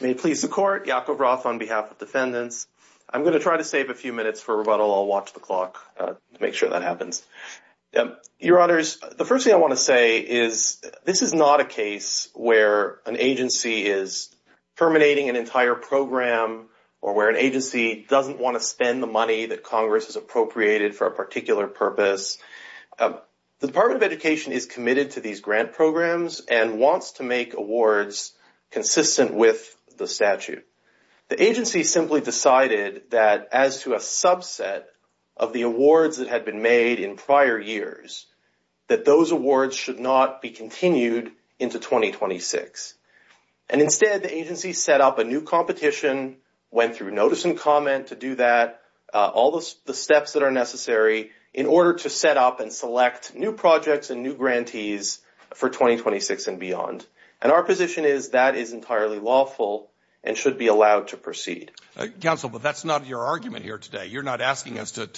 May it please the Court, Yakov Roth on behalf of Defendants. I'm going to try to save a few minutes for rebuttal. I'll watch the clock to make sure that happens. Your Honors, the first thing I want to say is this is not a case where an agency is terminating an entire program or where an agency doesn't want to spend the money that Congress has appropriated for a particular purpose. The Department of Education is committed to these grant programs and wants to make awards consistent with the statute. The agency simply decided that as to a subset of the awards that had been made in prior years, that those awards should not be continued into 2026. And instead, the agency set up a new competition, went through notice and comment to do that, all the steps that are necessary in order to set up and select new projects and new grantees for 2026 and beyond. And our position is that is entirely lawful and should be allowed to proceed. Counsel, but that's not your argument here today. You're not asking us to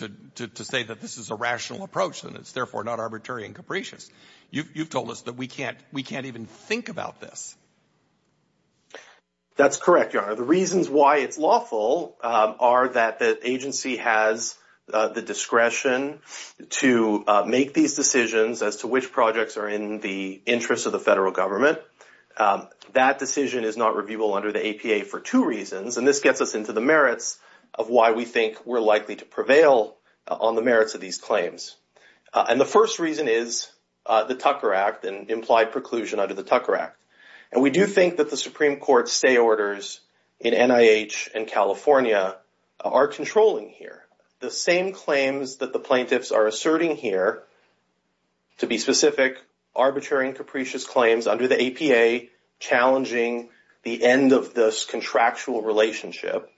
say that this is a rational approach and it's therefore not arbitrary and capricious. You've told us that we can't even think about this. That's correct, Your Honor. The reasons why it's lawful are that the agency has the discretion to make these decisions as to which projects are in the interest of the federal government. That decision is not reviewable under the APA for two reasons, and this gets us into the merits of why we think we're likely to prevail on the merits of these claims. And the first reason is the Tucker Act and implied preclusion under the Tucker Act. And we do think that the Supreme Court's stay orders in NIH and California are controlling here. The same claims that the plaintiffs are asserting here, to be specific, arbitrary and capricious claims under the APA challenging the end of this contractual relationship,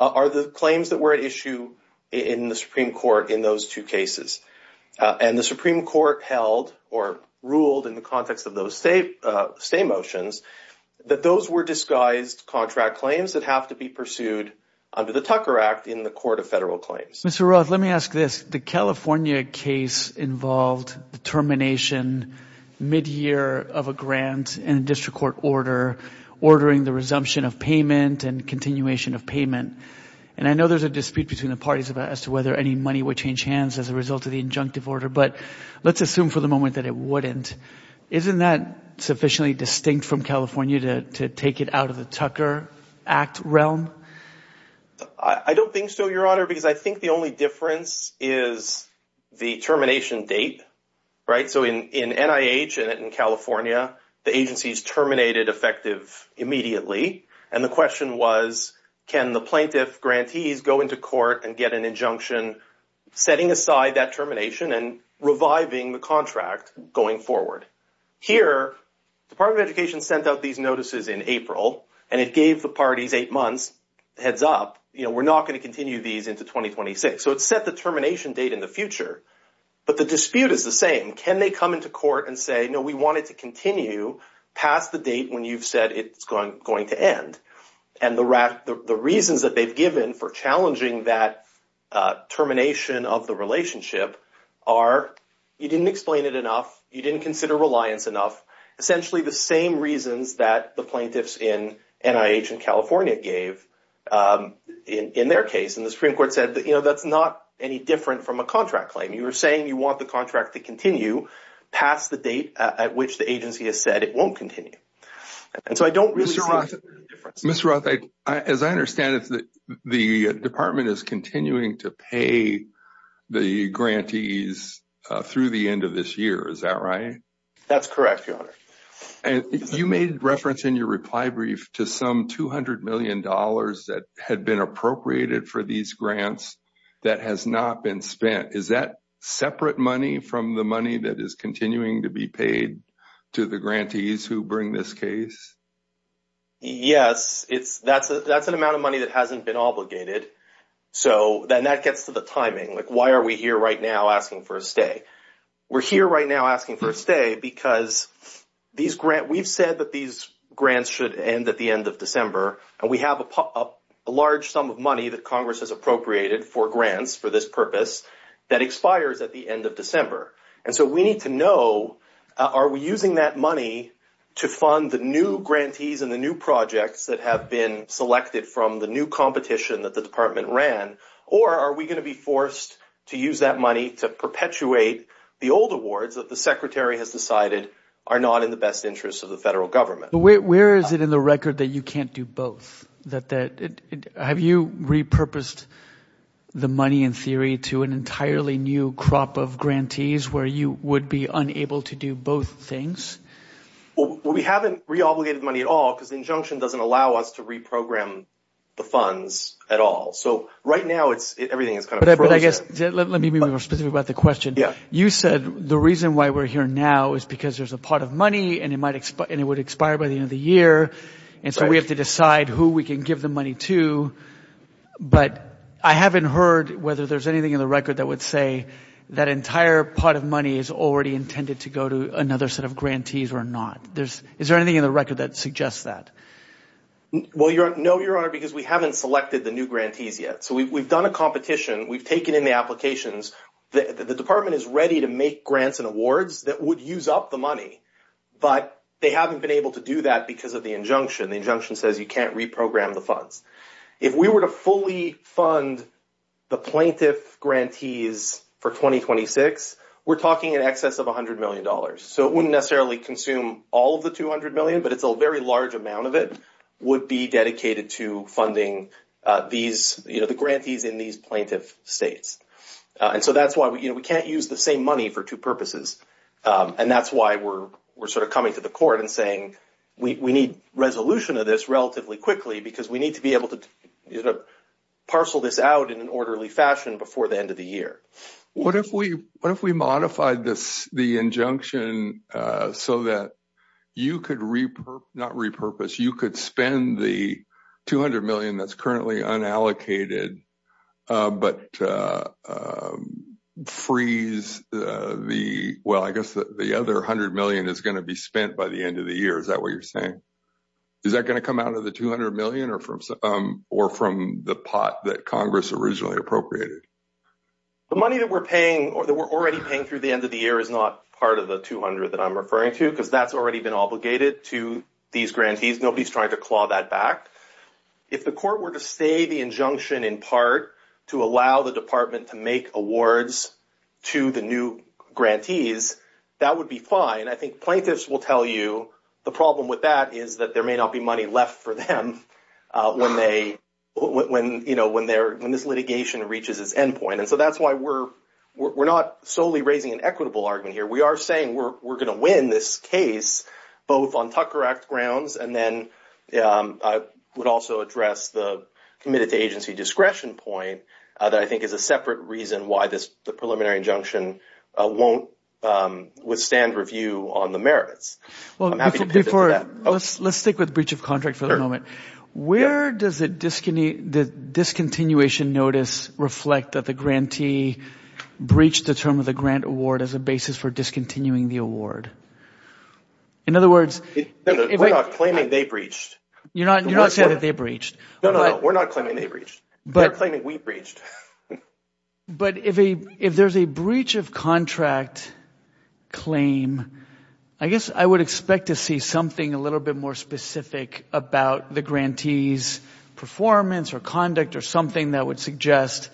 are the claims that were at issue in the Supreme Court in those two cases. And the Supreme Court held or ruled in the context of those stay motions that those were disguised contract claims that have to be pursued under the Tucker Act in the Court of Federal Claims. Mr. Roth, let me ask this. The California case involved the termination mid-year of a grant in a district court order, ordering the resumption of payment and continuation of payment. And I know there's a dispute between the parties as to whether any money would change hands as a result of the injunctive order, but let's assume for the moment that it wouldn't. Isn't that sufficiently distinct from California to take it out of the Tucker Act realm? I don't think so, Your Honor, because I think the only difference is the termination date, right? So in NIH and in California, the agencies terminated effective immediately. And the question was, can the plaintiff grantees go into court and get an injunction setting aside that termination and reviving the contract going forward? Here, Department of Education sent out these notices in April, and it gave the parties eight months heads up. You know, we're not going to continue these into 2026. So it set the termination date in the future. But the dispute is the same. Can they come into court and say, no, we wanted to continue past the date when you've said it's going to end? And the reasons that they've given for challenging that termination of the relationship are you didn't explain it enough. You didn't consider reliance enough, essentially the same reasons that the plaintiffs in NIH and California gave in their case. And the Supreme Court said, you know, that's not any different from a contract claim. You're saying you want the contract to continue past the date at which the agency has said it won't continue. And so I don't really see a difference. Mr. Roth, as I understand it, the department is continuing to pay the grantees through the end of this year. Is that right? That's correct, Your Honor. And you made reference in your reply brief to some $200 million that had been appropriated for these grants that has not been spent. Is that separate money from the money that is continuing to be paid to the grantees who bring this case? Yes. That's an amount of money that hasn't been obligated. So then that gets to the timing. Like, why are we here right now asking for a stay? We're here right now asking for a stay because we've said that these grants should end at the end of December. And we have a large sum of money that Congress has appropriated for grants for this purpose that expires at the end of December. And so we need to know, are we using that money to fund the new grantees and the new projects that have been selected from the new competition that the department ran? Or are we going to be forced to use that money to perpetuate the old awards that the secretary has decided are not in the best interest of the federal government? Where is it in the record that you can't do both? Have you repurposed the money in theory to an entirely new crop of grantees where you would be unable to do both things? Well, we haven't re-obligated money at all because the injunction doesn't allow us to reprogram the funds at all. So right now, everything is kind of frozen. Let me be more specific about the question. You said the reason why we're here now is because there's a pot of money and it would expire by the end of the year. And so we have to decide who we can give the money to. But I haven't heard whether there's anything in the record that would say that entire pot of money is already intended to go to another set of grantees or not. Is there anything in the record that suggests that? Well, no, Your Honor, because we haven't selected the new grantees yet. So we've done a competition. We've taken in the applications. The department is ready to make grants and awards that would use up the money, but they haven't been able to do that because of the injunction. The injunction says you can't reprogram the funds. If we were to fully fund the plaintiff grantees for 2026, we're talking in excess of $100 million. So it wouldn't necessarily consume all of the $200 million, but a very large amount of it would be dedicated to funding the grantees in these plaintiff states. And so that's why we can't use the same money for two purposes. And that's why we're sort of coming to the court and saying we need resolution of this relatively quickly because we need to be able to parcel this out in an orderly fashion before the end of the year. What if we modified the injunction so that you could spend the $200 million that's currently unallocated but freeze the other $100 million that's going to be spent by the end of the year? Is that what you're saying? Is that going to come out of the $200 million or from the pot that Congress originally appropriated? The money that we're already paying through the end of the year is not part of the $200 million that I'm referring to because that's already been obligated to these grantees. Nobody's trying to claw that back. If the court were to stay the injunction in part to allow the department to make awards to the new grantees, that would be fine. I think plaintiffs will tell you the problem with that is that there may not be money left for them when this litigation reaches its end point. And so that's why we're not solely raising an equitable argument here. We are saying we're going to win this case both on Tucker Act grounds and then I would also address the committed to agency discretion point that I think is a separate reason why the preliminary injunction won't withstand review on the merits. I'm happy to pivot to that. Let's stick with breach of contract for the moment. Where does the discontinuation notice reflect that the grantee breached the term of the grant award as a basis for discontinuing the award? In other words – We're not claiming they breached. You're not saying that they breached. No, no, no. We're not claiming they breached. They're claiming we breached. But if there's a breach of contract claim, I guess I would expect to see something a little bit more specific about the grantee's performance or conduct or something that would suggest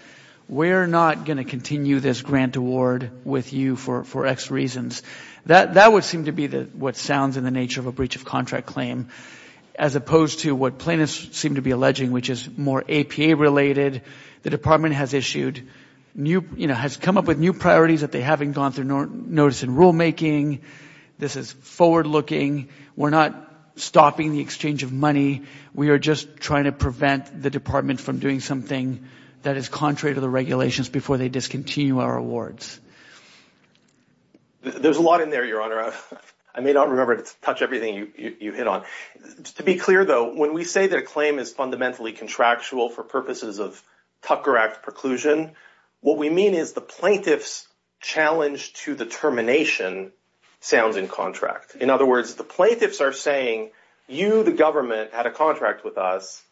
we're not going to continue this grant award with you for X reasons. That would seem to be what sounds in the nature of a breach of contract claim as opposed to what plaintiffs seem to be alleging, which is more APA related. The department has issued – has come up with new priorities that they haven't gone through notice in rulemaking. This is forward-looking. We're not stopping the exchange of money. We are just trying to prevent the department from doing something that is contrary to the regulations before they discontinue our awards. There's a lot in there, Your Honor. I may not remember to touch everything you hit on. To be clear, though, when we say that a claim is fundamentally contractual for purposes of Tucker Act preclusion, what we mean is the plaintiff's challenge to the termination sounds in contract. In other words, the plaintiffs are saying, you, the government, had a contract with us.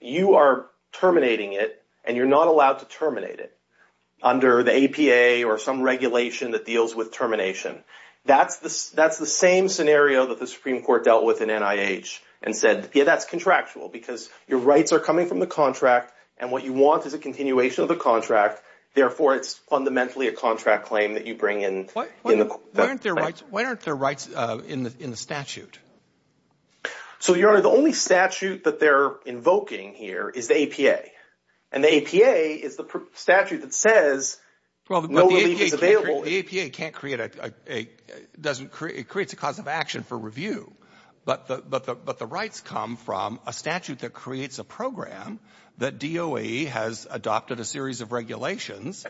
You are terminating it, and you're not allowed to terminate it under the APA or some regulation that deals with termination. That's the same scenario that the Supreme Court dealt with in NIH and said, yeah, that's contractual because your rights are coming from the contract, and what you want is a continuation of the contract. Therefore, it's fundamentally a contract claim that you bring in. Why aren't there rights in the statute? So, Your Honor, the only statute that they're invoking here is the APA, and the APA is the statute that says no relief is available. The APA can't create a – it creates a cause of action for review, but the rights come from a statute that creates a program that DOE has adopted a series of regulations,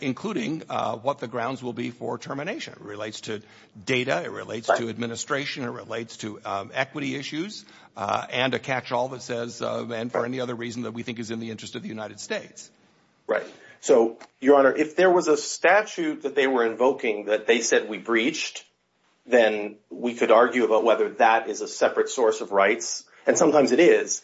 including what the grounds will be for termination. It relates to data. It relates to administration. It relates to equity issues and a catch-all that says – and for any other reason that we think is in the interest of the United States. Right. So, Your Honor, if there was a statute that they were invoking that they said we breached, then we could argue about whether that is a separate source of rights, and sometimes it is.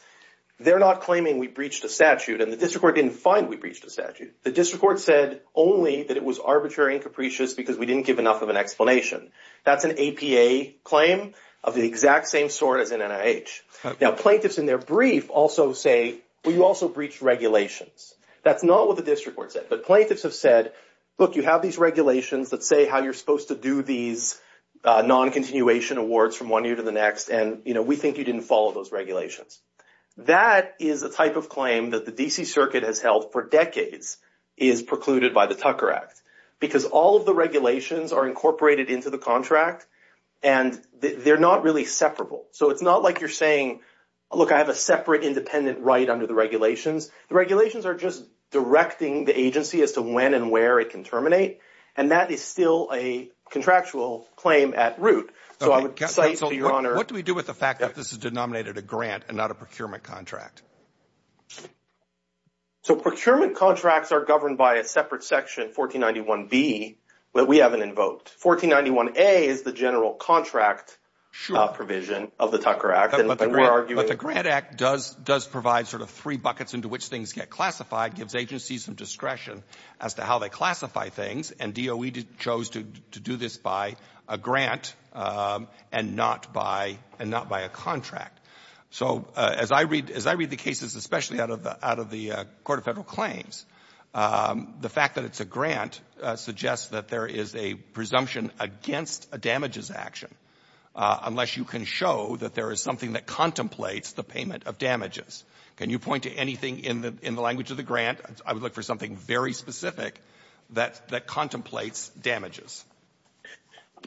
They're not claiming we breached a statute, and the district court didn't find we breached a statute. The district court said only that it was arbitrary and capricious because we didn't give enough of an explanation. That's an APA claim of the exact same sort as in NIH. Now, plaintiffs in their brief also say, well, you also breached regulations. That's not what the district court said, but plaintiffs have said, look, you have these regulations that say how you're supposed to do these non-continuation awards from one year to the next, and we think you didn't follow those regulations. That is a type of claim that the D.C. Circuit has held for decades is precluded by the Tucker Act because all of the regulations are incorporated into the contract, and they're not really separable. So it's not like you're saying, look, I have a separate independent right under the regulations. The regulations are just directing the agency as to when and where it can terminate, and that is still a contractual claim at root. So I would cite, Your Honor. What do we do with the fact that this is denominated a grant and not a procurement contract? So procurement contracts are governed by a separate section, 1491B, that we haven't invoked. 1491A is the general contract provision of the Tucker Act. But the Grant Act does provide sort of three buckets into which things get classified, gives agencies some discretion as to how they classify things, and DOE chose to do this by a grant and not by a contract. So as I read the cases, especially out of the Court of Federal Claims, the fact that it's a grant suggests that there is a presumption against a damages action unless you can show that there is something that contemplates the payment of damages. Can you point to anything in the language of the grant? I would look for something very specific that contemplates damages.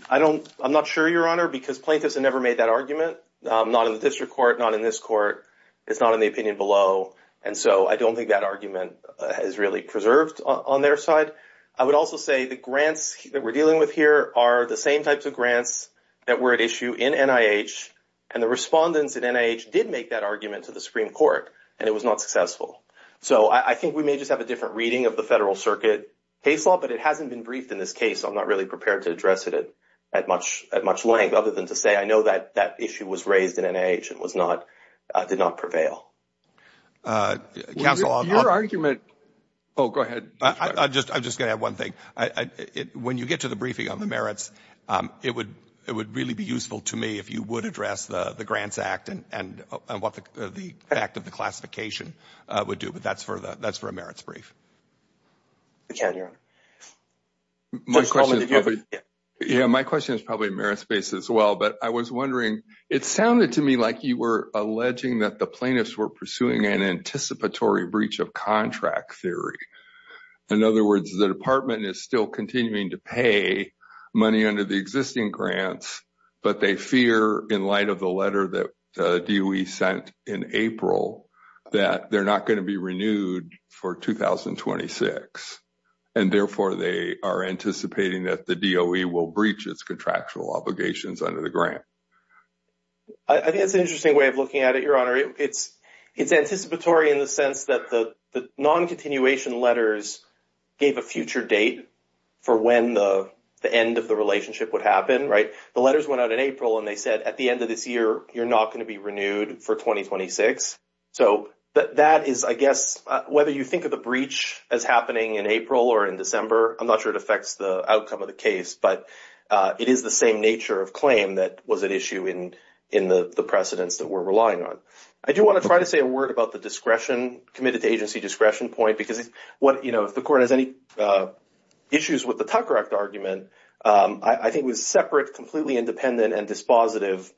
I'm not sure, Your Honor, because plaintiffs have never made that argument, not in the district court, not in this court. It's not in the opinion below, and so I don't think that argument is really preserved on their side. I would also say the grants that we're dealing with here are the same types of grants that were at issue in NIH, and the respondents at NIH did make that argument to the Supreme Court, and it was not successful. So I think we may just have a different reading of the Federal Circuit case law, but it hasn't been briefed in this case. I'm not really prepared to address it at much length other than to say I know that that issue was raised in NIH and did not prevail. Counsel, I'm not— Your argument—oh, go ahead. I'm just going to add one thing. When you get to the briefing on the merits, it would really be useful to me if you would address the Grants Act and what the act of the classification would do, but that's for a merits brief. You can, Your Honor. My question is probably merits-based as well, but I was wondering, it sounded to me like you were alleging that the plaintiffs were pursuing an anticipatory breach of contract theory. In other words, the department is still continuing to pay money under the existing grants, but they fear in light of the letter that DOE sent in April that they're not going to be renewed for 2026. And therefore, they are anticipating that the DOE will breach its contractual obligations under the grant. I think that's an interesting way of looking at it, Your Honor. It's anticipatory in the sense that the non-continuation letters gave a future date for when the end of the relationship would happen, right? The letters went out in April, and they said at the end of this year, you're not going to be renewed for 2026. So that is, I guess, whether you think of the breach as happening in April or in December, I'm not sure it affects the outcome of the case, but it is the same nature of claim that was at issue in the precedents that we're relying on. I do want to try to say a word about the discretion, committed-to-agency discretion point, because if the court has any issues with the Tucker Act argument, I think it was separate, completely independent, and dispositive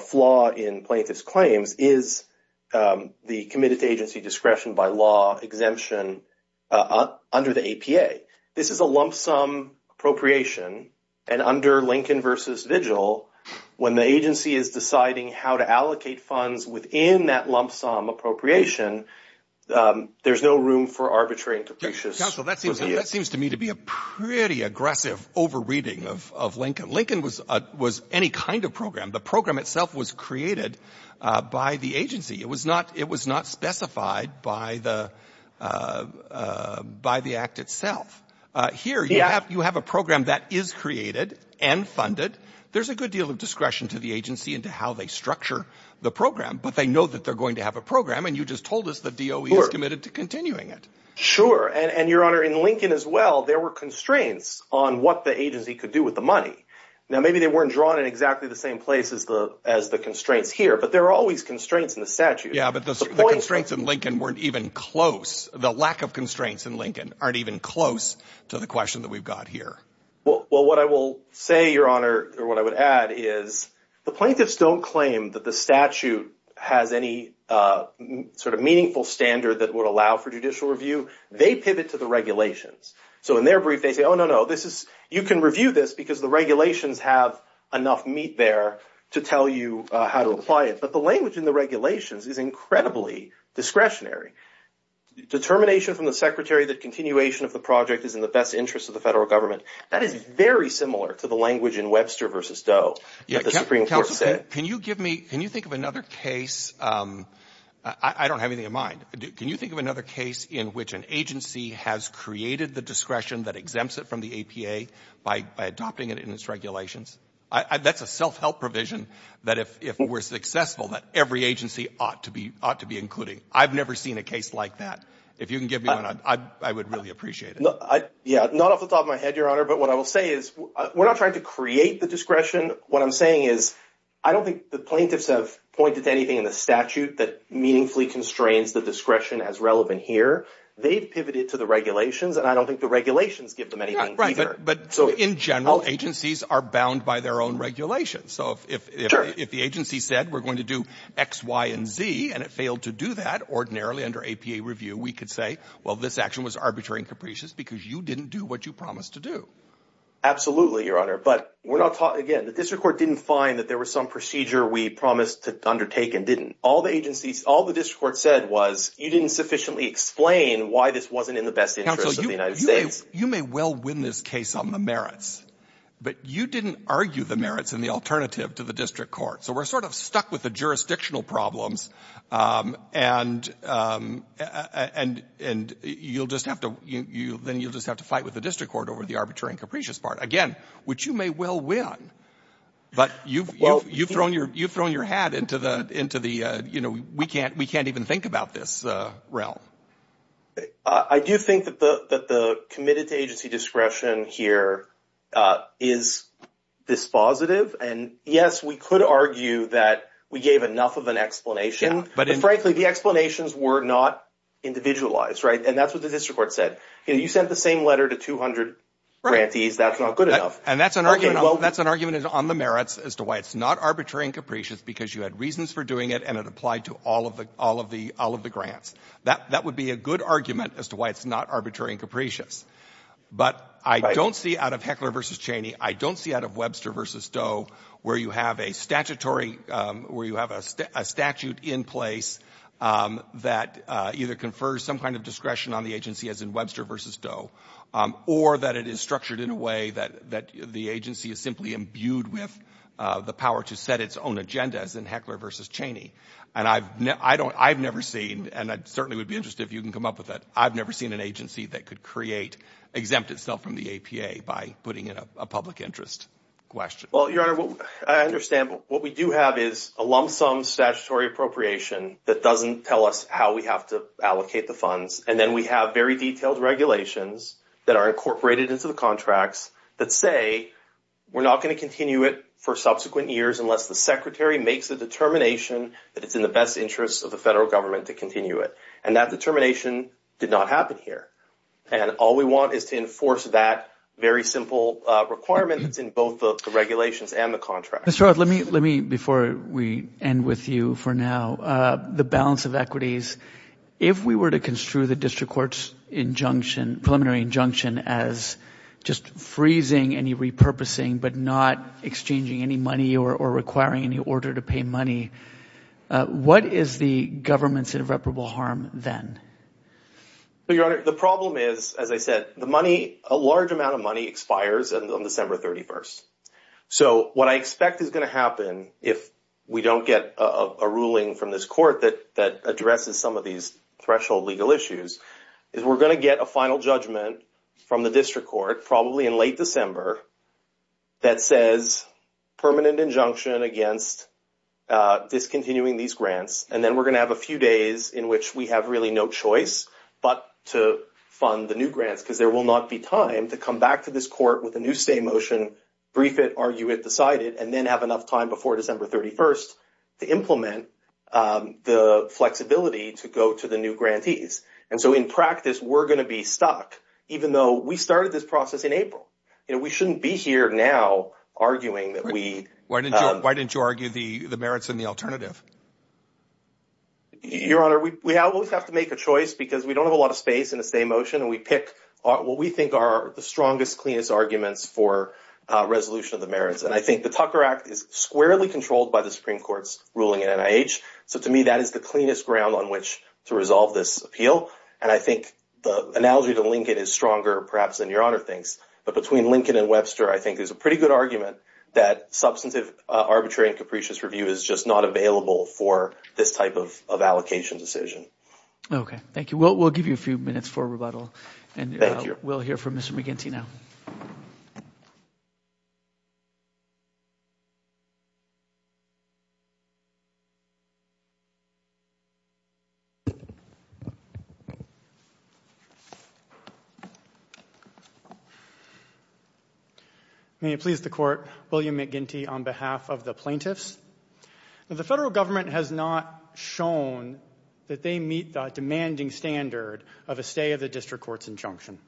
flaw in plaintiff's claims is the committed-to-agency discretion by law exemption under the APA. This is a lump sum appropriation, and under Lincoln v. Vigil, when the agency is deciding how to allocate funds within that lump sum appropriation, there's no room for arbitrary and depreciation. Counsel, that seems to me to be a pretty aggressive over-reading of Lincoln. Lincoln was any kind of program. The program itself was created by the agency. It was not specified by the Act itself. Here, you have a program that is created and funded. There's a good deal of discretion to the agency into how they structure the program, but they know that they're going to have a program, and you just told us the DOE is committed to continuing it. Sure, and, Your Honor, in Lincoln as well, there were constraints on what the agency could do with the money. Now, maybe they weren't drawn in exactly the same place as the constraints here, but there are always constraints in the statute. Yeah, but the constraints in Lincoln weren't even close. The lack of constraints in Lincoln aren't even close to the question that we've got here. Well, what I will say, Your Honor, or what I would add is the plaintiffs don't claim that the statute has any sort of meaningful standard that would allow for judicial review. They pivot to the regulations. So in their brief, they say, oh, no, no, you can review this because the regulations have enough meat there to tell you how to apply it. But the language in the regulations is incredibly discretionary. Determination from the secretary that continuation of the project is in the best interest of the federal government, that is very similar to the language in Webster v. DOE that the Supreme Court said. Counsel, can you give me, can you think of another case? I don't have anything in mind. Can you think of another case in which an agency has created the discretion that exempts it from the APA by adopting it in its regulations? That's a self-help provision that if we're successful, that every agency ought to be including. I've never seen a case like that. If you can give me one, I would really appreciate it. Yeah, not off the top of my head, Your Honor, but what I will say is we're not trying to create the discretion. What I'm saying is I don't think the plaintiffs have pointed to anything in the statute that meaningfully constrains the discretion as relevant here. They've pivoted to the regulations, and I don't think the regulations give them anything either. Right, but in general, agencies are bound by their own regulations. So if the agency said we're going to do X, Y, and Z, and it failed to do that ordinarily under APA review, we could say, well, this action was arbitrary and capricious because you didn't do what you promised to do. Absolutely, Your Honor, but we're not talking, again, the district court didn't find that there was some procedure we promised to undertake and didn't. All the agencies, all the district court said was you didn't sufficiently explain why this wasn't in the best interest of the United States. You may well win this case on the merits, but you didn't argue the merits and the alternative to the district court. So we're sort of stuck with the jurisdictional problems, and you'll just have to fight with the district court over the arbitrary and capricious part. Again, which you may well win, but you've thrown your hat into the, you know, we can't even think about this realm. I do think that the committed to agency discretion here is dispositive, and yes, we could argue that we gave enough of an explanation. But frankly, the explanations were not individualized, right? And that's what the district court said. You sent the same letter to 200 grantees. That's not good enough. And that's an argument on the merits as to why it's not arbitrary and capricious because you had reasons for doing it, and it applied to all of the grants. That would be a good argument as to why it's not arbitrary and capricious. But I don't see out of Heckler v. Cheney, I don't see out of Webster v. Doe where you have a statutory, where you have a statute in place that either confers some kind of discretion on the agency, as in Webster v. Doe, or that it is structured in a way that the agency is simply imbued with the power to set its own agenda, as in Heckler v. Cheney. And I've never seen, and I certainly would be interested if you can come up with that, I've never seen an agency that could create, exempt itself from the APA by putting in a public interest question. Well, Your Honor, I understand. But what we do have is a lump sum statutory appropriation that doesn't tell us how we have to allocate the funds. And then we have very detailed regulations that are incorporated into the contracts that say we're not going to continue it for subsequent years unless the Secretary makes a determination that it's in the best interest of the federal government to continue it. And that determination did not happen here. And all we want is to enforce that very simple requirement that's in both the regulations and the contracts. Mr. Roth, let me, before we end with you for now, the balance of equities. If we were to construe the district court's injunction, preliminary injunction, as just freezing any repurposing but not exchanging any money or requiring any order to pay money, what is the government's irreparable harm then? Well, Your Honor, the problem is, as I said, the money, a large amount of money expires on December 31st. So what I expect is going to happen if we don't get a ruling from this court that addresses some of these threshold legal issues is we're going to get a final judgment from the district court, probably in late December, that says permanent injunction against discontinuing these grants. And then we're going to have a few days in which we have really no choice but to fund the new grants because there will not be time to come back to this court with a new stay motion, brief it, argue it, decide it, and then have enough time before December 31st to implement the flexibility to go to the new grantees. And so in practice, we're going to be stuck, even though we started this process in April. We shouldn't be here now arguing that we... Why didn't you argue the merits and the alternative? Your Honor, we always have to make a choice because we don't have a lot of space in a stay motion, and we pick what we think are the strongest, cleanest arguments for resolution of the merits. And I think the Tucker Act is squarely controlled by the Supreme Court's ruling at NIH. So to me, that is the cleanest ground on which to resolve this appeal. And I think the analogy to Lincoln is stronger, perhaps, than Your Honor thinks. But between Lincoln and Webster, I think there's a pretty good argument that substantive, arbitrary, and capricious review is just not available for this type of allocation decision. Okay. Thank you. We'll give you a few minutes for rebuttal. Thank you. And we'll hear from Mr. McGinty now. May it please the Court, William McGinty, on behalf of the plaintiffs. The federal government has not shown that they meet the demanding standard of a stay of the district court's injunction.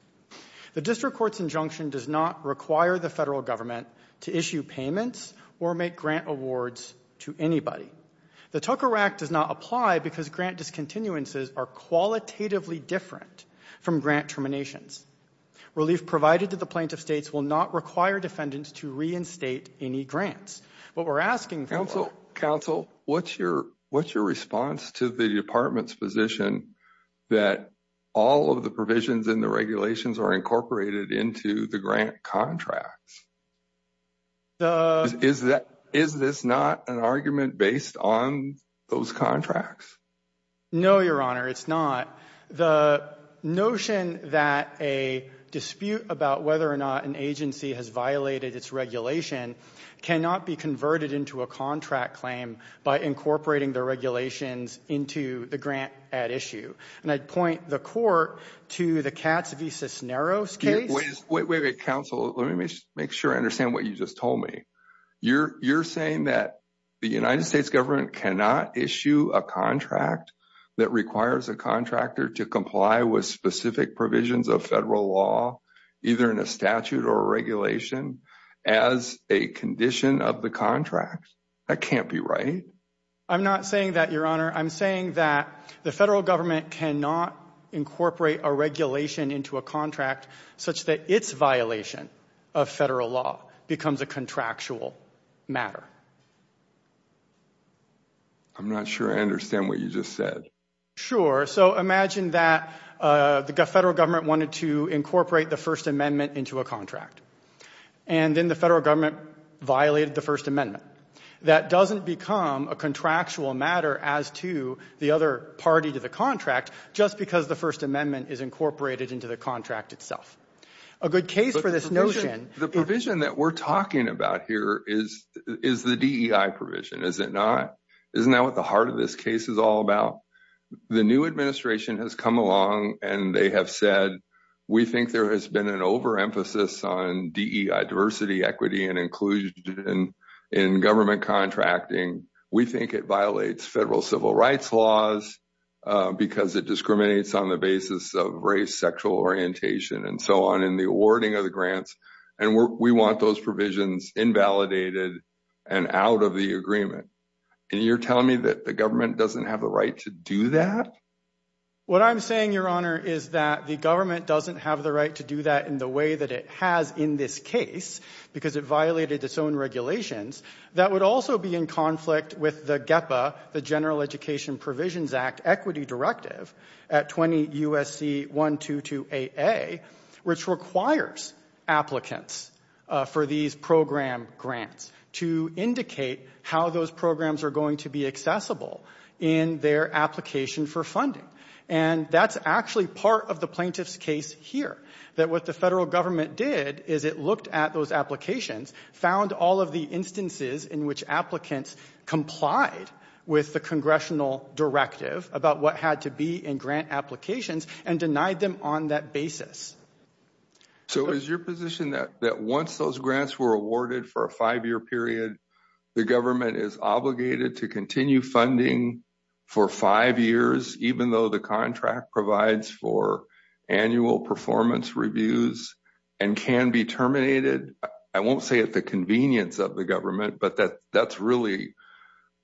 The district court's injunction does not require the federal government to issue payments or make grant awards to anybody. The Tucker Act does not require the federal government to issue payments or make grant awards to anybody. The Tucker Act does not apply because grant discontinuances are qualitatively different from grant terminations. Relief provided to the plaintiff's states will not require defendants to reinstate any grants. What we're asking for- Counsel, what's your response to the department's position that all of the provisions in the regulations are incorporated into the grant contracts? The- Is this not an argument based on those contracts? No, Your Honor, it's not. The notion that a dispute about whether or not an agency has violated its regulation cannot be converted into a contract claim by incorporating the regulations into the grant at issue. And I'd point the Court to the Katz v. Cisneros case. Wait, wait, wait, Counsel, let me make sure I understand what you just told me. You're saying that the United States government cannot issue a contract that requires a contractor to comply with specific provisions of federal law, either in a statute or regulation, as a condition of the contract? That can't be right. I'm not saying that, Your Honor. I'm saying that the federal government cannot incorporate a regulation into a contract such that its violation of federal law becomes a contractual matter. I'm not sure I understand what you just said. Sure. So imagine that the federal government wanted to incorporate the First Amendment into a contract, and then the federal government violated the First Amendment. That doesn't become a contractual matter as to the other party to the contract, just because the First Amendment is incorporated into the contract itself. A good case for this notion – The provision that we're talking about here is the DEI provision, is it not? Isn't that what the heart of this case is all about? The new administration has come along, and they have said, we think there has been an overemphasis on DEI – diversity, equity, and inclusion – in government contracting. We think it violates federal civil rights laws because it discriminates on the basis of race, sexual orientation, and so on in the awarding of the grants. And we want those provisions invalidated and out of the agreement. And you're telling me that the government doesn't have the right to do that? What I'm saying, Your Honor, is that the government doesn't have the right to do that in the way that it has in this case, because it violated its own regulations. That would also be in conflict with the GEPA, the General Education Provisions Act, at 20 U.S.C. 1228A, which requires applicants for these program grants to indicate how those programs are going to be accessible in their application for funding. And that's actually part of the plaintiff's case here, that what the federal government did is it looked at those applications, found all of the instances in which applicants complied with the congressional directive about what had to be in grant applications, and denied them on that basis. So is your position that once those grants were awarded for a five-year period, the government is obligated to continue funding for five years, even though the contract provides for annual performance reviews and can be terminated? I won't say at the convenience of the government, but that's really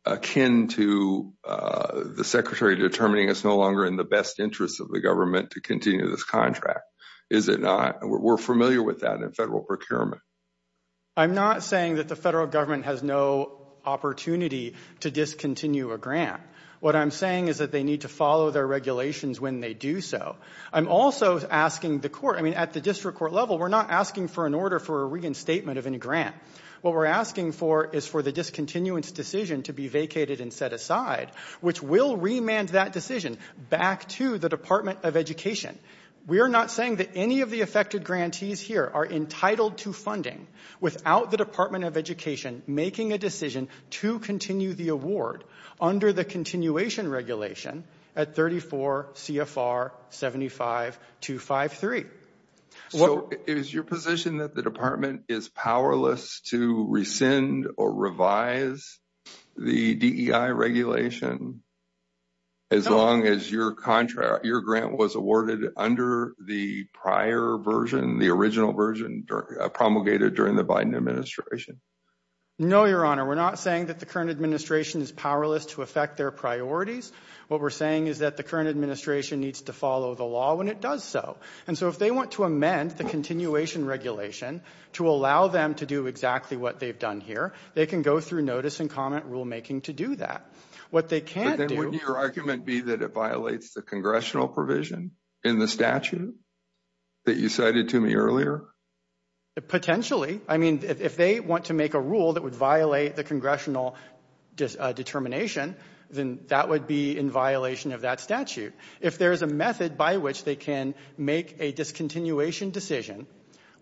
akin to the Secretary determining it's no longer in the best interest of the government to continue this contract, is it not? We're familiar with that in federal procurement. I'm not saying that the federal government has no opportunity to discontinue a grant. What I'm saying is that they need to follow their regulations when they do so. I'm also asking the court, I mean, at the district court level, we're not asking for an order for a reinstatement of any grant. What we're asking for is for the discontinuance decision to be vacated and set aside, which will remand that decision back to the Department of Education. We are not saying that any of the affected grantees here are entitled to funding without the Department of Education making a decision to continue the award under the continuation regulation at 34 CFR 75253. Is your position that the department is powerless to rescind or revise the DEI regulation as long as your grant was awarded under the prior version, the original version promulgated during the Biden administration? No, Your Honor. We're not saying that the current administration is powerless to affect their priorities. What we're saying is that the current administration needs to follow the law when it does so. And so if they want to amend the continuation regulation to allow them to do exactly what they've done here, they can go through notice and comment rulemaking to do that. What they can't do— But then wouldn't your argument be that it violates the congressional provision in the statute that you cited to me earlier? Potentially. I mean, if they want to make a rule that would violate the congressional determination, then that would be in violation of that statute. If there is a method by which they can make a discontinuation decision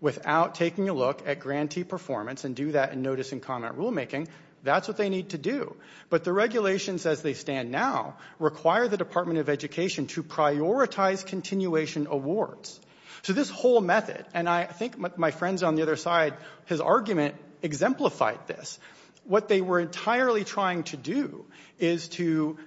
without taking a look at grantee performance and do that in notice and comment rulemaking, that's what they need to do. But the regulations as they stand now require the Department of Education to prioritize continuation awards. So this whole method—and I think my friend's on the other side, his argument exemplified this. What they were entirely trying to do is to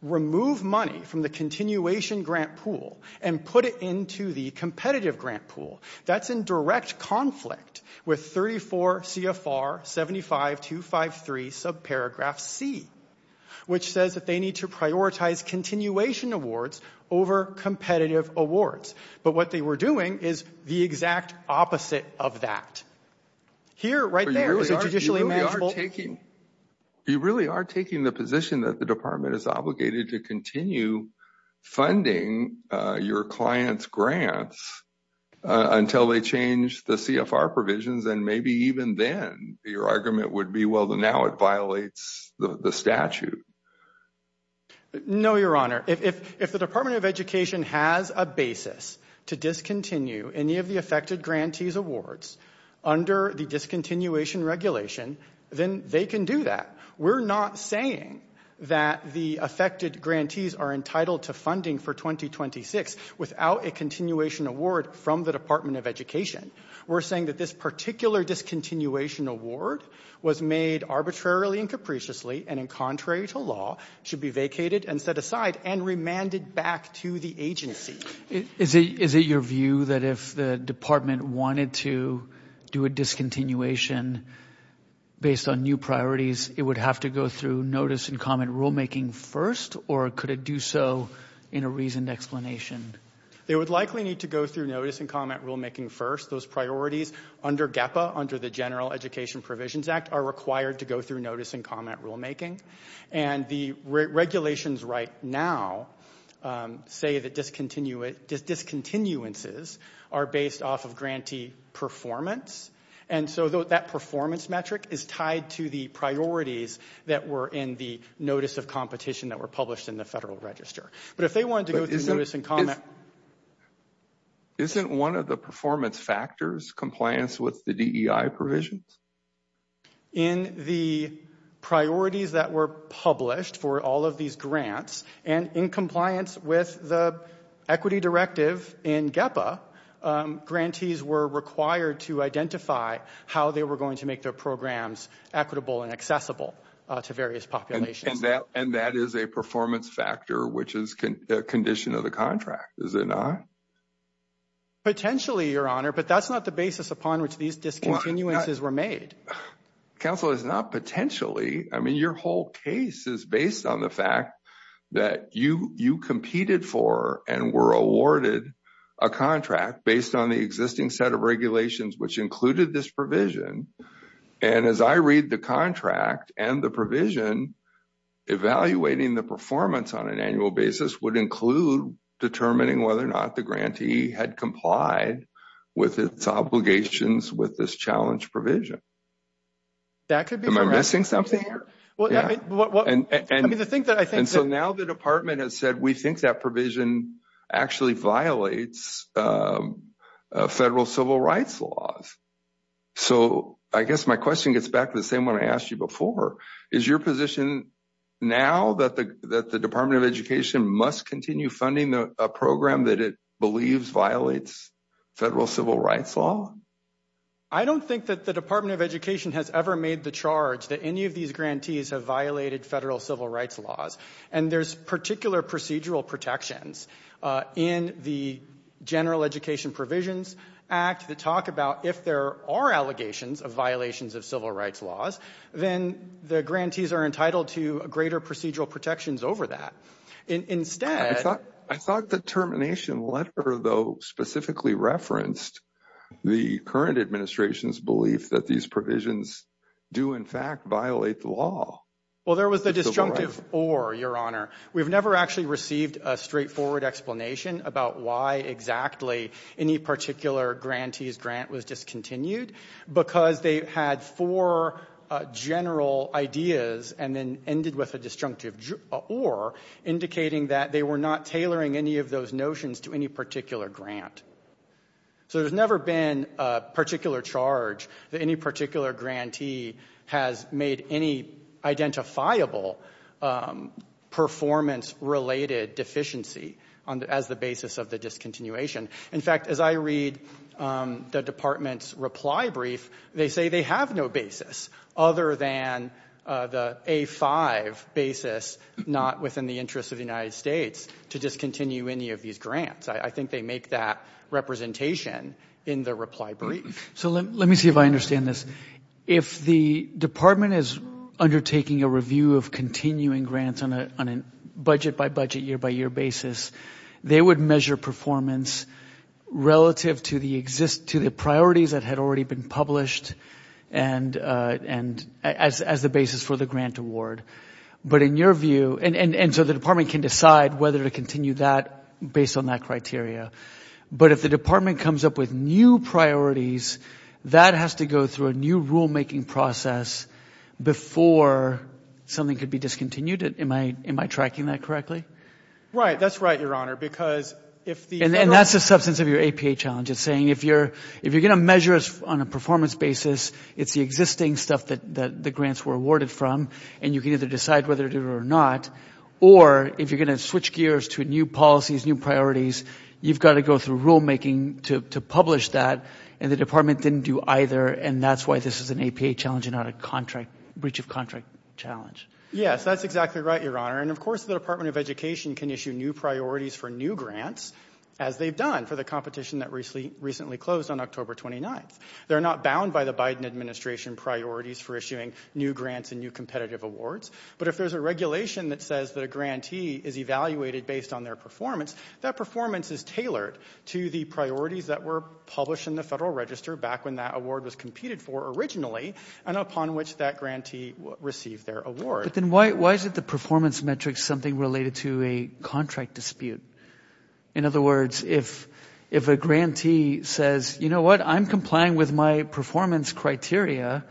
remove money from the continuation grant pool and put it into the competitive grant pool. That's in direct conflict with 34 CFR 75253 subparagraph C, which says that they need to prioritize continuation awards over competitive awards. But what they were doing is the exact opposite of that. Here, right there, is a judicially manageable— You really are taking the position that the Department is obligated to continue funding your clients' grants until they change the CFR provisions, and maybe even then your argument would be, well, now it violates the statute. No, Your Honor. If the Department of Education has a basis to discontinue any of the affected grantees' awards under the discontinuation regulation, then they can do that. We're not saying that the affected grantees are entitled to funding for 2026 without a continuation award from the Department of Education. We're saying that this particular discontinuation award was made arbitrarily and capriciously and, contrary to law, should be vacated and set aside and remanded back to the agency. Is it your view that if the Department wanted to do a discontinuation based on new priorities, it would have to go through notice and comment rulemaking first, or could it do so in a reasoned explanation? They would likely need to go through notice and comment rulemaking first. Those priorities under GEPA, under the General Education Provisions Act, are required to go through notice and comment rulemaking, and the regulations right now say that discontinuances are based off of grantee performance, and so that performance metric is tied to the priorities that were in the notice of competition that were published in the Federal Register. But if they wanted to go through notice and comment... Isn't one of the performance factors compliance with the DEI provisions? In the priorities that were published for all of these grants and in compliance with the equity directive in GEPA, grantees were required to identify how they were going to make their programs equitable and accessible to various populations. And that is a performance factor, which is a condition of the contract, is it not? Potentially, Your Honor, but that's not the basis upon which these discontinuances were made. Counsel, it's not potentially. I mean, your whole case is based on the fact that you competed for and were awarded a contract based on the existing set of regulations which included this provision, and as I read the contract and the provision, evaluating the performance on an annual basis would include determining whether or not the grantee had complied with its obligations with this challenge provision. Am I missing something here? And so now the Department has said, we think that provision actually violates federal civil rights laws. So I guess my question gets back to the same one I asked you before. Is your position now that the Department of Education must continue funding a program that it believes violates federal civil rights law? I don't think that the Department of Education has ever made the charge that any of these grantees have violated federal civil rights laws. And there's particular procedural protections in the General Education Provisions Act that talk about if there are allegations of violations of civil rights laws, then the grantees are entitled to greater procedural protections over that. I thought the termination letter, though, specifically referenced the current administration's belief that these provisions do, in fact, violate the law. Well, there was the disjunctive or, Your Honor. We've never actually received a straightforward explanation about why exactly any particular grantee's grant was discontinued because they had four general ideas and then ended with a disjunctive or, indicating that they were not tailoring any of those notions to any particular grant. So there's never been a particular charge that any particular grantee has made any identifiable performance-related deficiency as the basis of the discontinuation. In fact, as I read the Department's reply brief, they say they have no basis other than the A-5 basis, not within the interest of the United States, to discontinue any of these grants. I think they make that representation in the reply brief. So let me see if I understand this. If the Department is undertaking a review of continuing grants on a budget-by-budget, year-by-year basis, they would measure performance relative to the priorities that had already been published as the basis for the grant award. But in your view, and so the Department can decide whether to continue that based on that criteria, but if the Department comes up with new priorities, that has to go through a new rule-making process before something could be discontinued. Am I tracking that correctly? Right. That's right, Your Honor, because if the other one. And that's the substance of your APA challenge. It's saying if you're going to measure us on a performance basis, it's the existing stuff that the grants were awarded from, and you can either decide whether to do it or not. Or if you're going to switch gears to new policies, new priorities, you've got to go through rule-making to publish that. And the Department didn't do either, and that's why this is an APA challenge and not a breach of contract challenge. Yes, that's exactly right, Your Honor. And, of course, the Department of Education can issue new priorities for new grants, as they've done for the competition that recently closed on October 29th. They're not bound by the Biden Administration priorities for issuing new grants and new competitive awards. But if there's a regulation that says that a grantee is evaluated based on their performance, that performance is tailored to the priorities that were published in the Federal Register back when that award was competed for originally and upon which that grantee received their award. But then why is it the performance metric is something related to a contract dispute? In other words, if a grantee says, you know what, I'm complying with my performance criteria,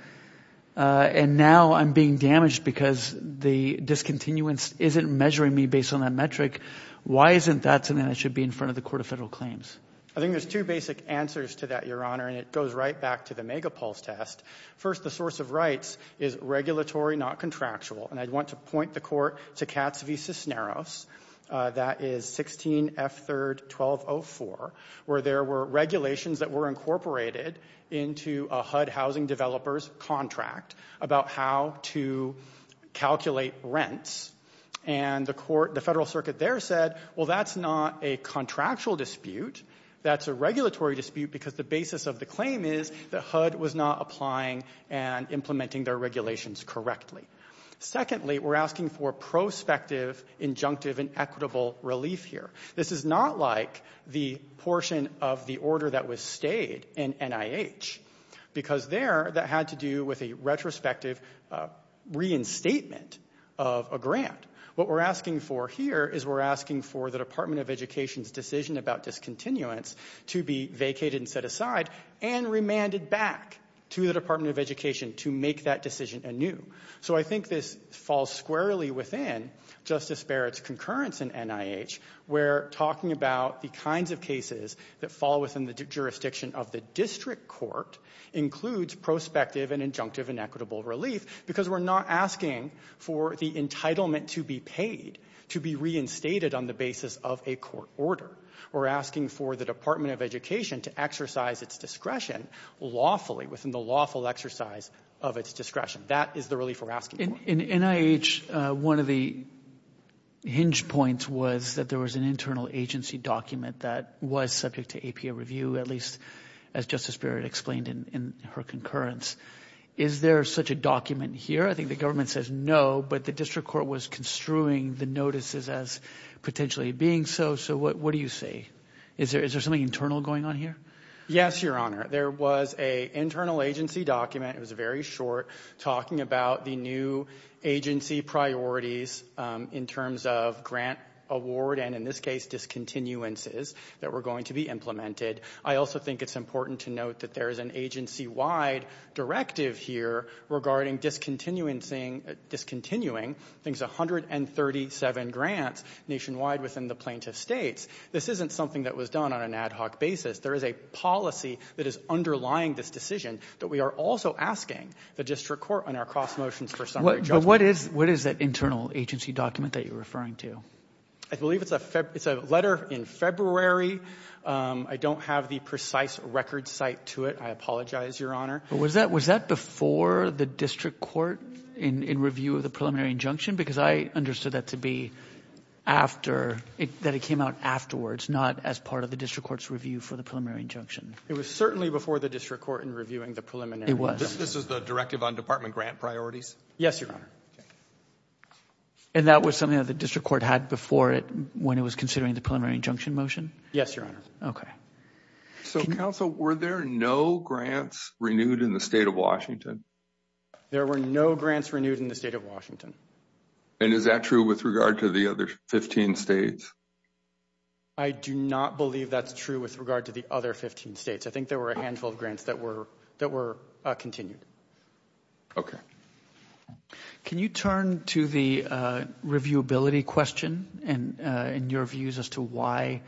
and now I'm being damaged because the discontinuance isn't measuring me based on that metric, why isn't that something that should be in front of the Court of Federal Claims? I think there's two basic answers to that, Your Honor, and it goes right back to the megapulse test. First, the source of rights is regulatory, not contractual. And I'd want to point the Court to Katz v. Cisneros. That is 16F3-1204, where there were regulations that were incorporated into a HUD housing developer's contract about how to calculate rents. And the Federal Circuit there said, well, that's not a contractual dispute. That's a regulatory dispute because the basis of the claim is that HUD was not applying and implementing their regulations correctly. Secondly, we're asking for prospective, injunctive, and equitable relief here. This is not like the portion of the order that was stayed in NIH because there that had to do with a retrospective reinstatement of a grant. What we're asking for here is we're asking for the Department of Education's decision about discontinuance to be vacated and set aside and remanded back to the Department of Education to make that decision anew. So I think this falls squarely within Justice Barrett's concurrence in NIH, where talking about the kinds of cases that fall within the jurisdiction of the district court includes prospective and injunctive and equitable relief because we're not asking for the entitlement to be paid, to be reinstated on the basis of a court order. We're asking for the Department of Education to exercise its discretion lawfully, within the lawful exercise of its discretion. That is the relief we're asking for. In NIH, one of the hinge points was that there was an internal agency document that was subject to APA review, at least as Justice Barrett explained in her concurrence. Is there such a document here? I think the government says no, but the district court was construing the notices as potentially being so. So what do you say? Is there something internal going on here? Yes, Your Honor. There was an internal agency document. It was very short, talking about the new agency priorities in terms of grant award and, in this case, discontinuances that were going to be implemented. I also think it's important to note that there is an agency-wide directive here regarding discontinuing things, 137 grants nationwide within the plaintiff states. This isn't something that was done on an ad hoc basis. There is a policy that is underlying this decision that we are also asking the district court on our cross-motions for summary judgment. But what is that internal agency document that you're referring to? I believe it's a letter in February. I don't have the precise record cite to it. I apologize, Your Honor. But was that before the district court in review of the preliminary injunction? Because I understood that to be after, that it came out afterwards, not as part of the preliminary injunction. It was certainly before the district court in reviewing the preliminary injunction. It was. This is the directive on department grant priorities? Yes, Your Honor. And that was something that the district court had before it when it was considering the preliminary injunction motion? Yes, Your Honor. Okay. So, counsel, were there no grants renewed in the state of Washington? There were no grants renewed in the state of Washington. And is that true with regard to the other 15 states? I do not believe that's true with regard to the other 15 states. I think there were a handful of grants that were continued. Okay. Can you turn to the reviewability question and your views as to why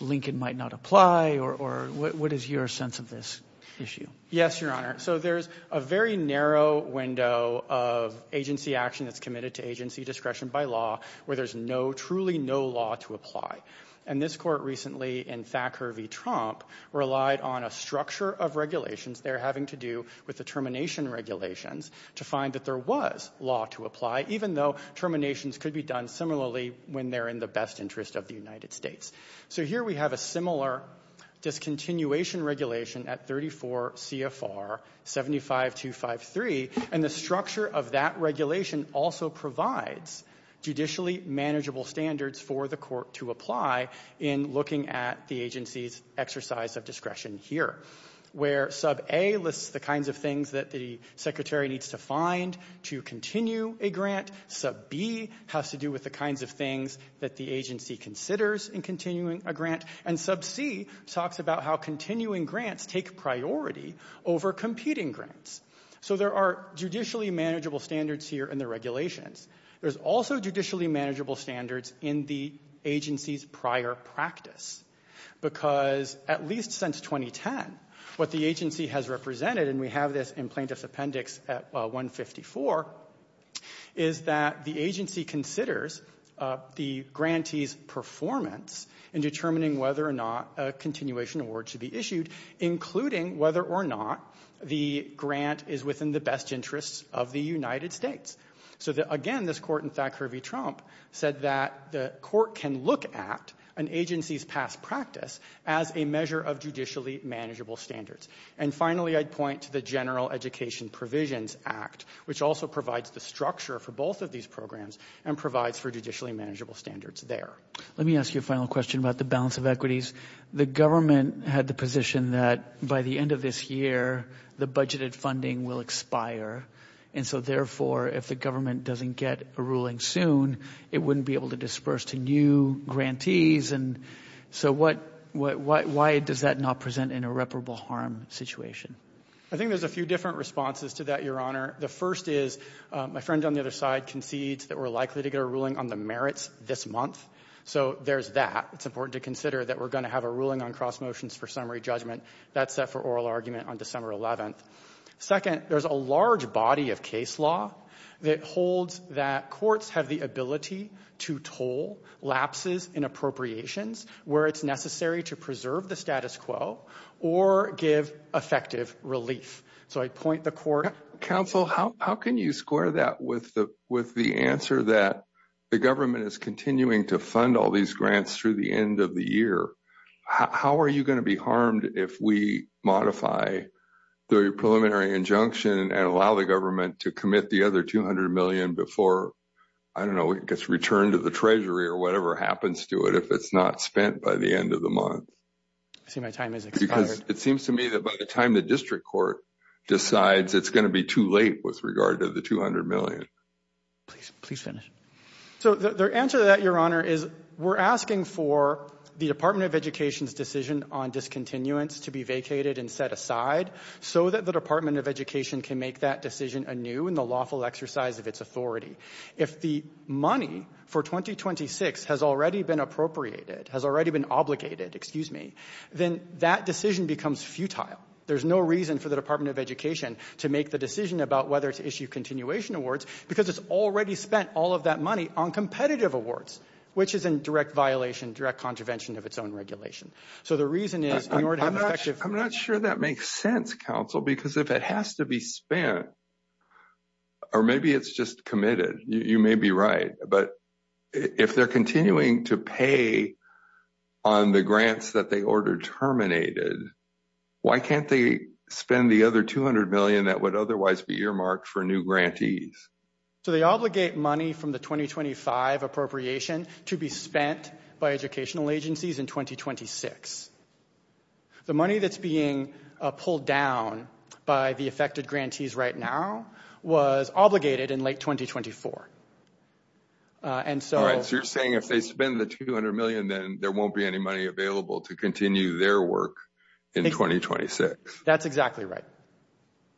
Lincoln might not apply, or what is your sense of this issue? Yes, Your Honor. So there's a very narrow window of agency action that's committed to agency discretion by law where there's no, truly no law to apply. And this court recently in Thacker v. Tromp relied on a structure of regulations they're having to do with the termination regulations to find that there was law to apply, even though terminations could be done similarly when they're in the best interest of the United States. So here we have a similar discontinuation regulation at 34 CFR 75253, and the structure of that regulation also provides judicially manageable standards for the court to apply in looking at the agency's exercise of discretion here, where Sub A lists the kinds of things that the secretary needs to find to continue a grant. Sub B has to do with the kinds of things that the agency considers in continuing a grant. And Sub C talks about how continuing grants take priority over competing grants. So there are judicially manageable standards here in the regulations. There's also judicially manageable standards in the agency's prior practice, because at least since 2010, what the agency has represented, and we have this in plaintiff's appendix at 154, is that the agency considers the grantee's performance in determining whether or not a continuation award should be issued, including whether or not the grant is within the best interests of the United States. So, again, this court in Thackeray v. Trump said that the court can look at an agency's past practice as a measure of judicially manageable standards. And, finally, I'd point to the General Education Provisions Act, which also provides the structure for both of these programs and provides for judicially manageable standards there. Let me ask you a final question about the balance of equities. The government had the position that by the end of this year, the budgeted funding will expire, and so, therefore, if the government doesn't get a ruling soon, it wouldn't be able to disperse to new grantees. And so why does that not present an irreparable harm situation? I think there's a few different responses to that, Your Honor. The first is, my friend on the other side concedes that we're likely to get a ruling on the merits this month. So there's that. It's important to consider that we're going to have a ruling on cross motions for summary judgment that's set for oral argument on December 11th. Second, there's a large body of case law that holds that courts have the ability to toll lapses in appropriations where it's necessary to preserve the status quo or give effective relief. Counsel, how can you square that with the answer that the government is continuing to fund all these grants through the end of the year? How are you going to be harmed if we modify the preliminary injunction and allow the government to commit the other $200 million before, I don't know, it gets returned to the Treasury or whatever happens to it if it's not spent by the end of the month? I see my time has expired. Because it seems to me that by the time the district court decides, it's going to be too late with regard to the $200 million. Please finish. So the answer to that, Your Honor, is we're asking for the Department of Education's decision on discontinuance to be vacated and set aside so that the Department of Education can make that decision anew in the lawful exercise of its authority. If the money for 2026 has already been appropriated, has already been obligated, excuse me, then that decision becomes futile. There's no reason for the Department of Education to make the decision about whether to issue continuation awards because it's already spent all of that money on competitive awards, which is in direct violation, direct contravention of its own regulation. So the reason is in order to have effective… I'm not sure that makes sense, Counsel, because if it has to be spent, or maybe it's just committed. You may be right, but if they're continuing to pay on the grants that they ordered terminated, why can't they spend the other $200 million that would otherwise be earmarked for new grantees? So they obligate money from the 2025 appropriation to be spent by educational agencies in 2026. The money that's being pulled down by the affected grantees right now was obligated in late 2024, and so… So you're saying if they spend the $200 million, then there won't be any money available to continue their work in 2026. That's exactly right.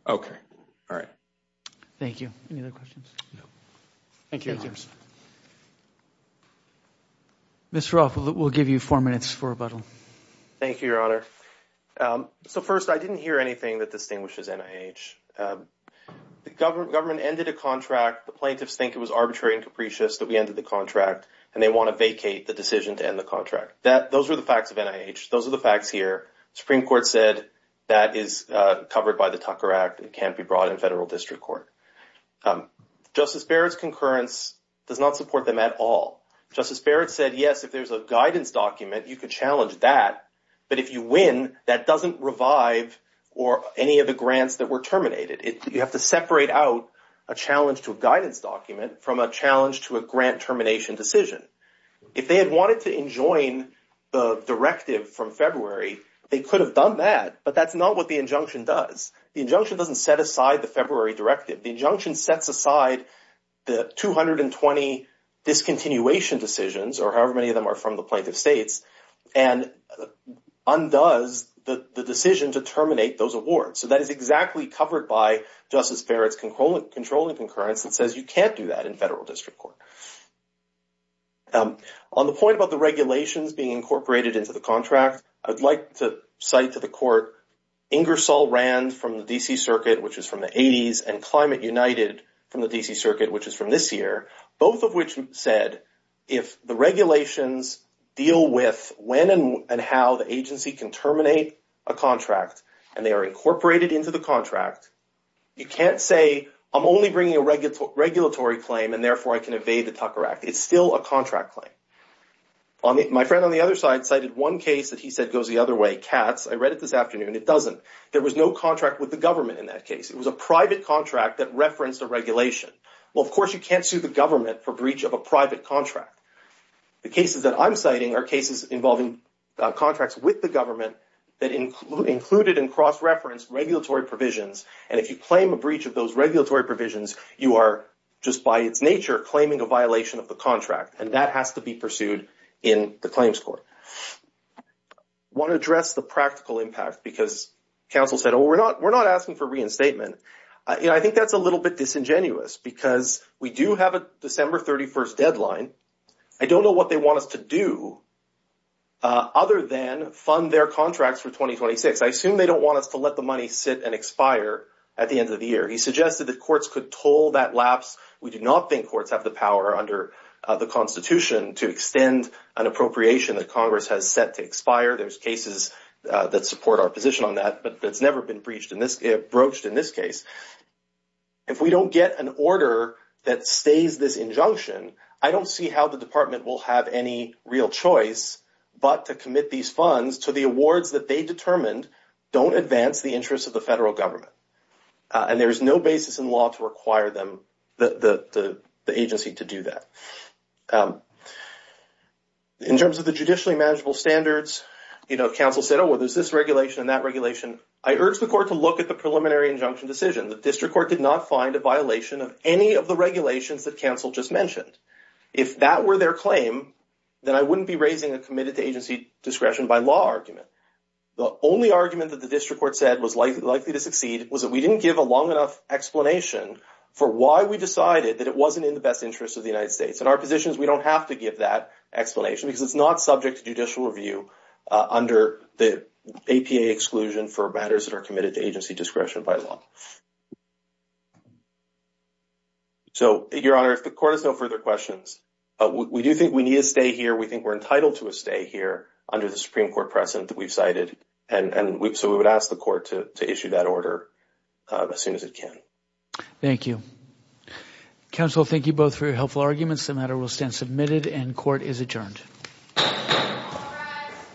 Okay. All right. Thank you. Any other questions? No. Thank you. Mr. Rolf, we'll give you four minutes for rebuttal. Thank you, Your Honor. So first, I didn't hear anything that distinguishes NIH. The government ended a contract. The plaintiffs think it was arbitrary and capricious that we ended the contract, and they want to vacate the decision to end the contract. Those are the facts of NIH. Those are the facts here. The Supreme Court said that is covered by the Tucker Act. It can't be brought in federal district court. Justice Barrett's concurrence does not support them at all. Justice Barrett said, yes, if there's a guidance document, you can challenge that, but if you win, that doesn't revive any of the grants that were terminated. You have to separate out a challenge to a guidance document from a challenge to a grant termination decision. If they had wanted to enjoin the directive from February, they could have done that, but that's not what the injunction does. The injunction doesn't set aside the February directive. The injunction sets aside the 220 discontinuation decisions, or however many of them are from the plaintiff states, and undoes the decision to terminate those awards. So that is exactly covered by Justice Barrett's controlling concurrence that says you can't do that in federal district court. On the point about the regulations being incorporated into the contract, I'd like to cite to the court Ingersoll Rand from the D.C. Circuit, which is from the 80s, and Climate United from the D.C. Circuit, which is from this year, both of which said if the regulations deal with when and how the agency can terminate a contract, and they are incorporated into the contract, you can't say I'm only bringing a regulatory claim, and therefore I can evade the Tucker Act. It's still a contract claim. My friend on the other side cited one case that he said goes the other way, Katz. I read it this afternoon. It doesn't. There was no contract with the government in that case. It was a private contract that referenced a regulation. Well, of course you can't sue the government for breach of a private contract. The cases that I'm citing are cases involving contracts with the government that included and cross-referenced regulatory provisions, and if you claim a breach of those regulatory provisions, you are just by its nature claiming a violation of the contract, and that has to be pursued in the claims court. I want to address the practical impact because counsel said, oh, we're not asking for reinstatement. I think that's a little bit disingenuous because we do have a December 31st deadline. I don't know what they want us to do other than fund their contracts for 2026. I assume they don't want us to let the money sit and expire at the end of the year. He suggested that courts could toll that lapse. We do not think courts have the power under the Constitution to extend an appropriation that Congress has set to expire. There's cases that support our position on that, but it's never been broached in this case. If we don't get an order that stays this injunction, I don't see how the department will have any real choice but to commit these funds to the awards that they determined don't advance the interests of the federal government. There is no basis in law to require the agency to do that. In terms of the judicially manageable standards, counsel said, oh, well, there's this regulation and that regulation. I urge the court to look at the preliminary injunction decision. The district court did not find a violation of any of the regulations that counsel just mentioned. If that were their claim, then I wouldn't be raising a committed to agency discretion by law argument. The only argument that the district court said was likely to succeed was that we didn't give a long enough explanation for why we decided that it wasn't in the best interest of the United States. In our positions, we don't have to give that explanation because it's not subject to judicial review under the APA exclusion for matters that are committed to agency discretion by law. So, Your Honor, if the court has no further questions, we do think we need a stay here. Under the Supreme Court precedent that we've cited. And so we would ask the court to issue that order as soon as it can. Thank you. Counsel, thank you both for your helpful arguments. The matter will stand submitted and court is adjourned.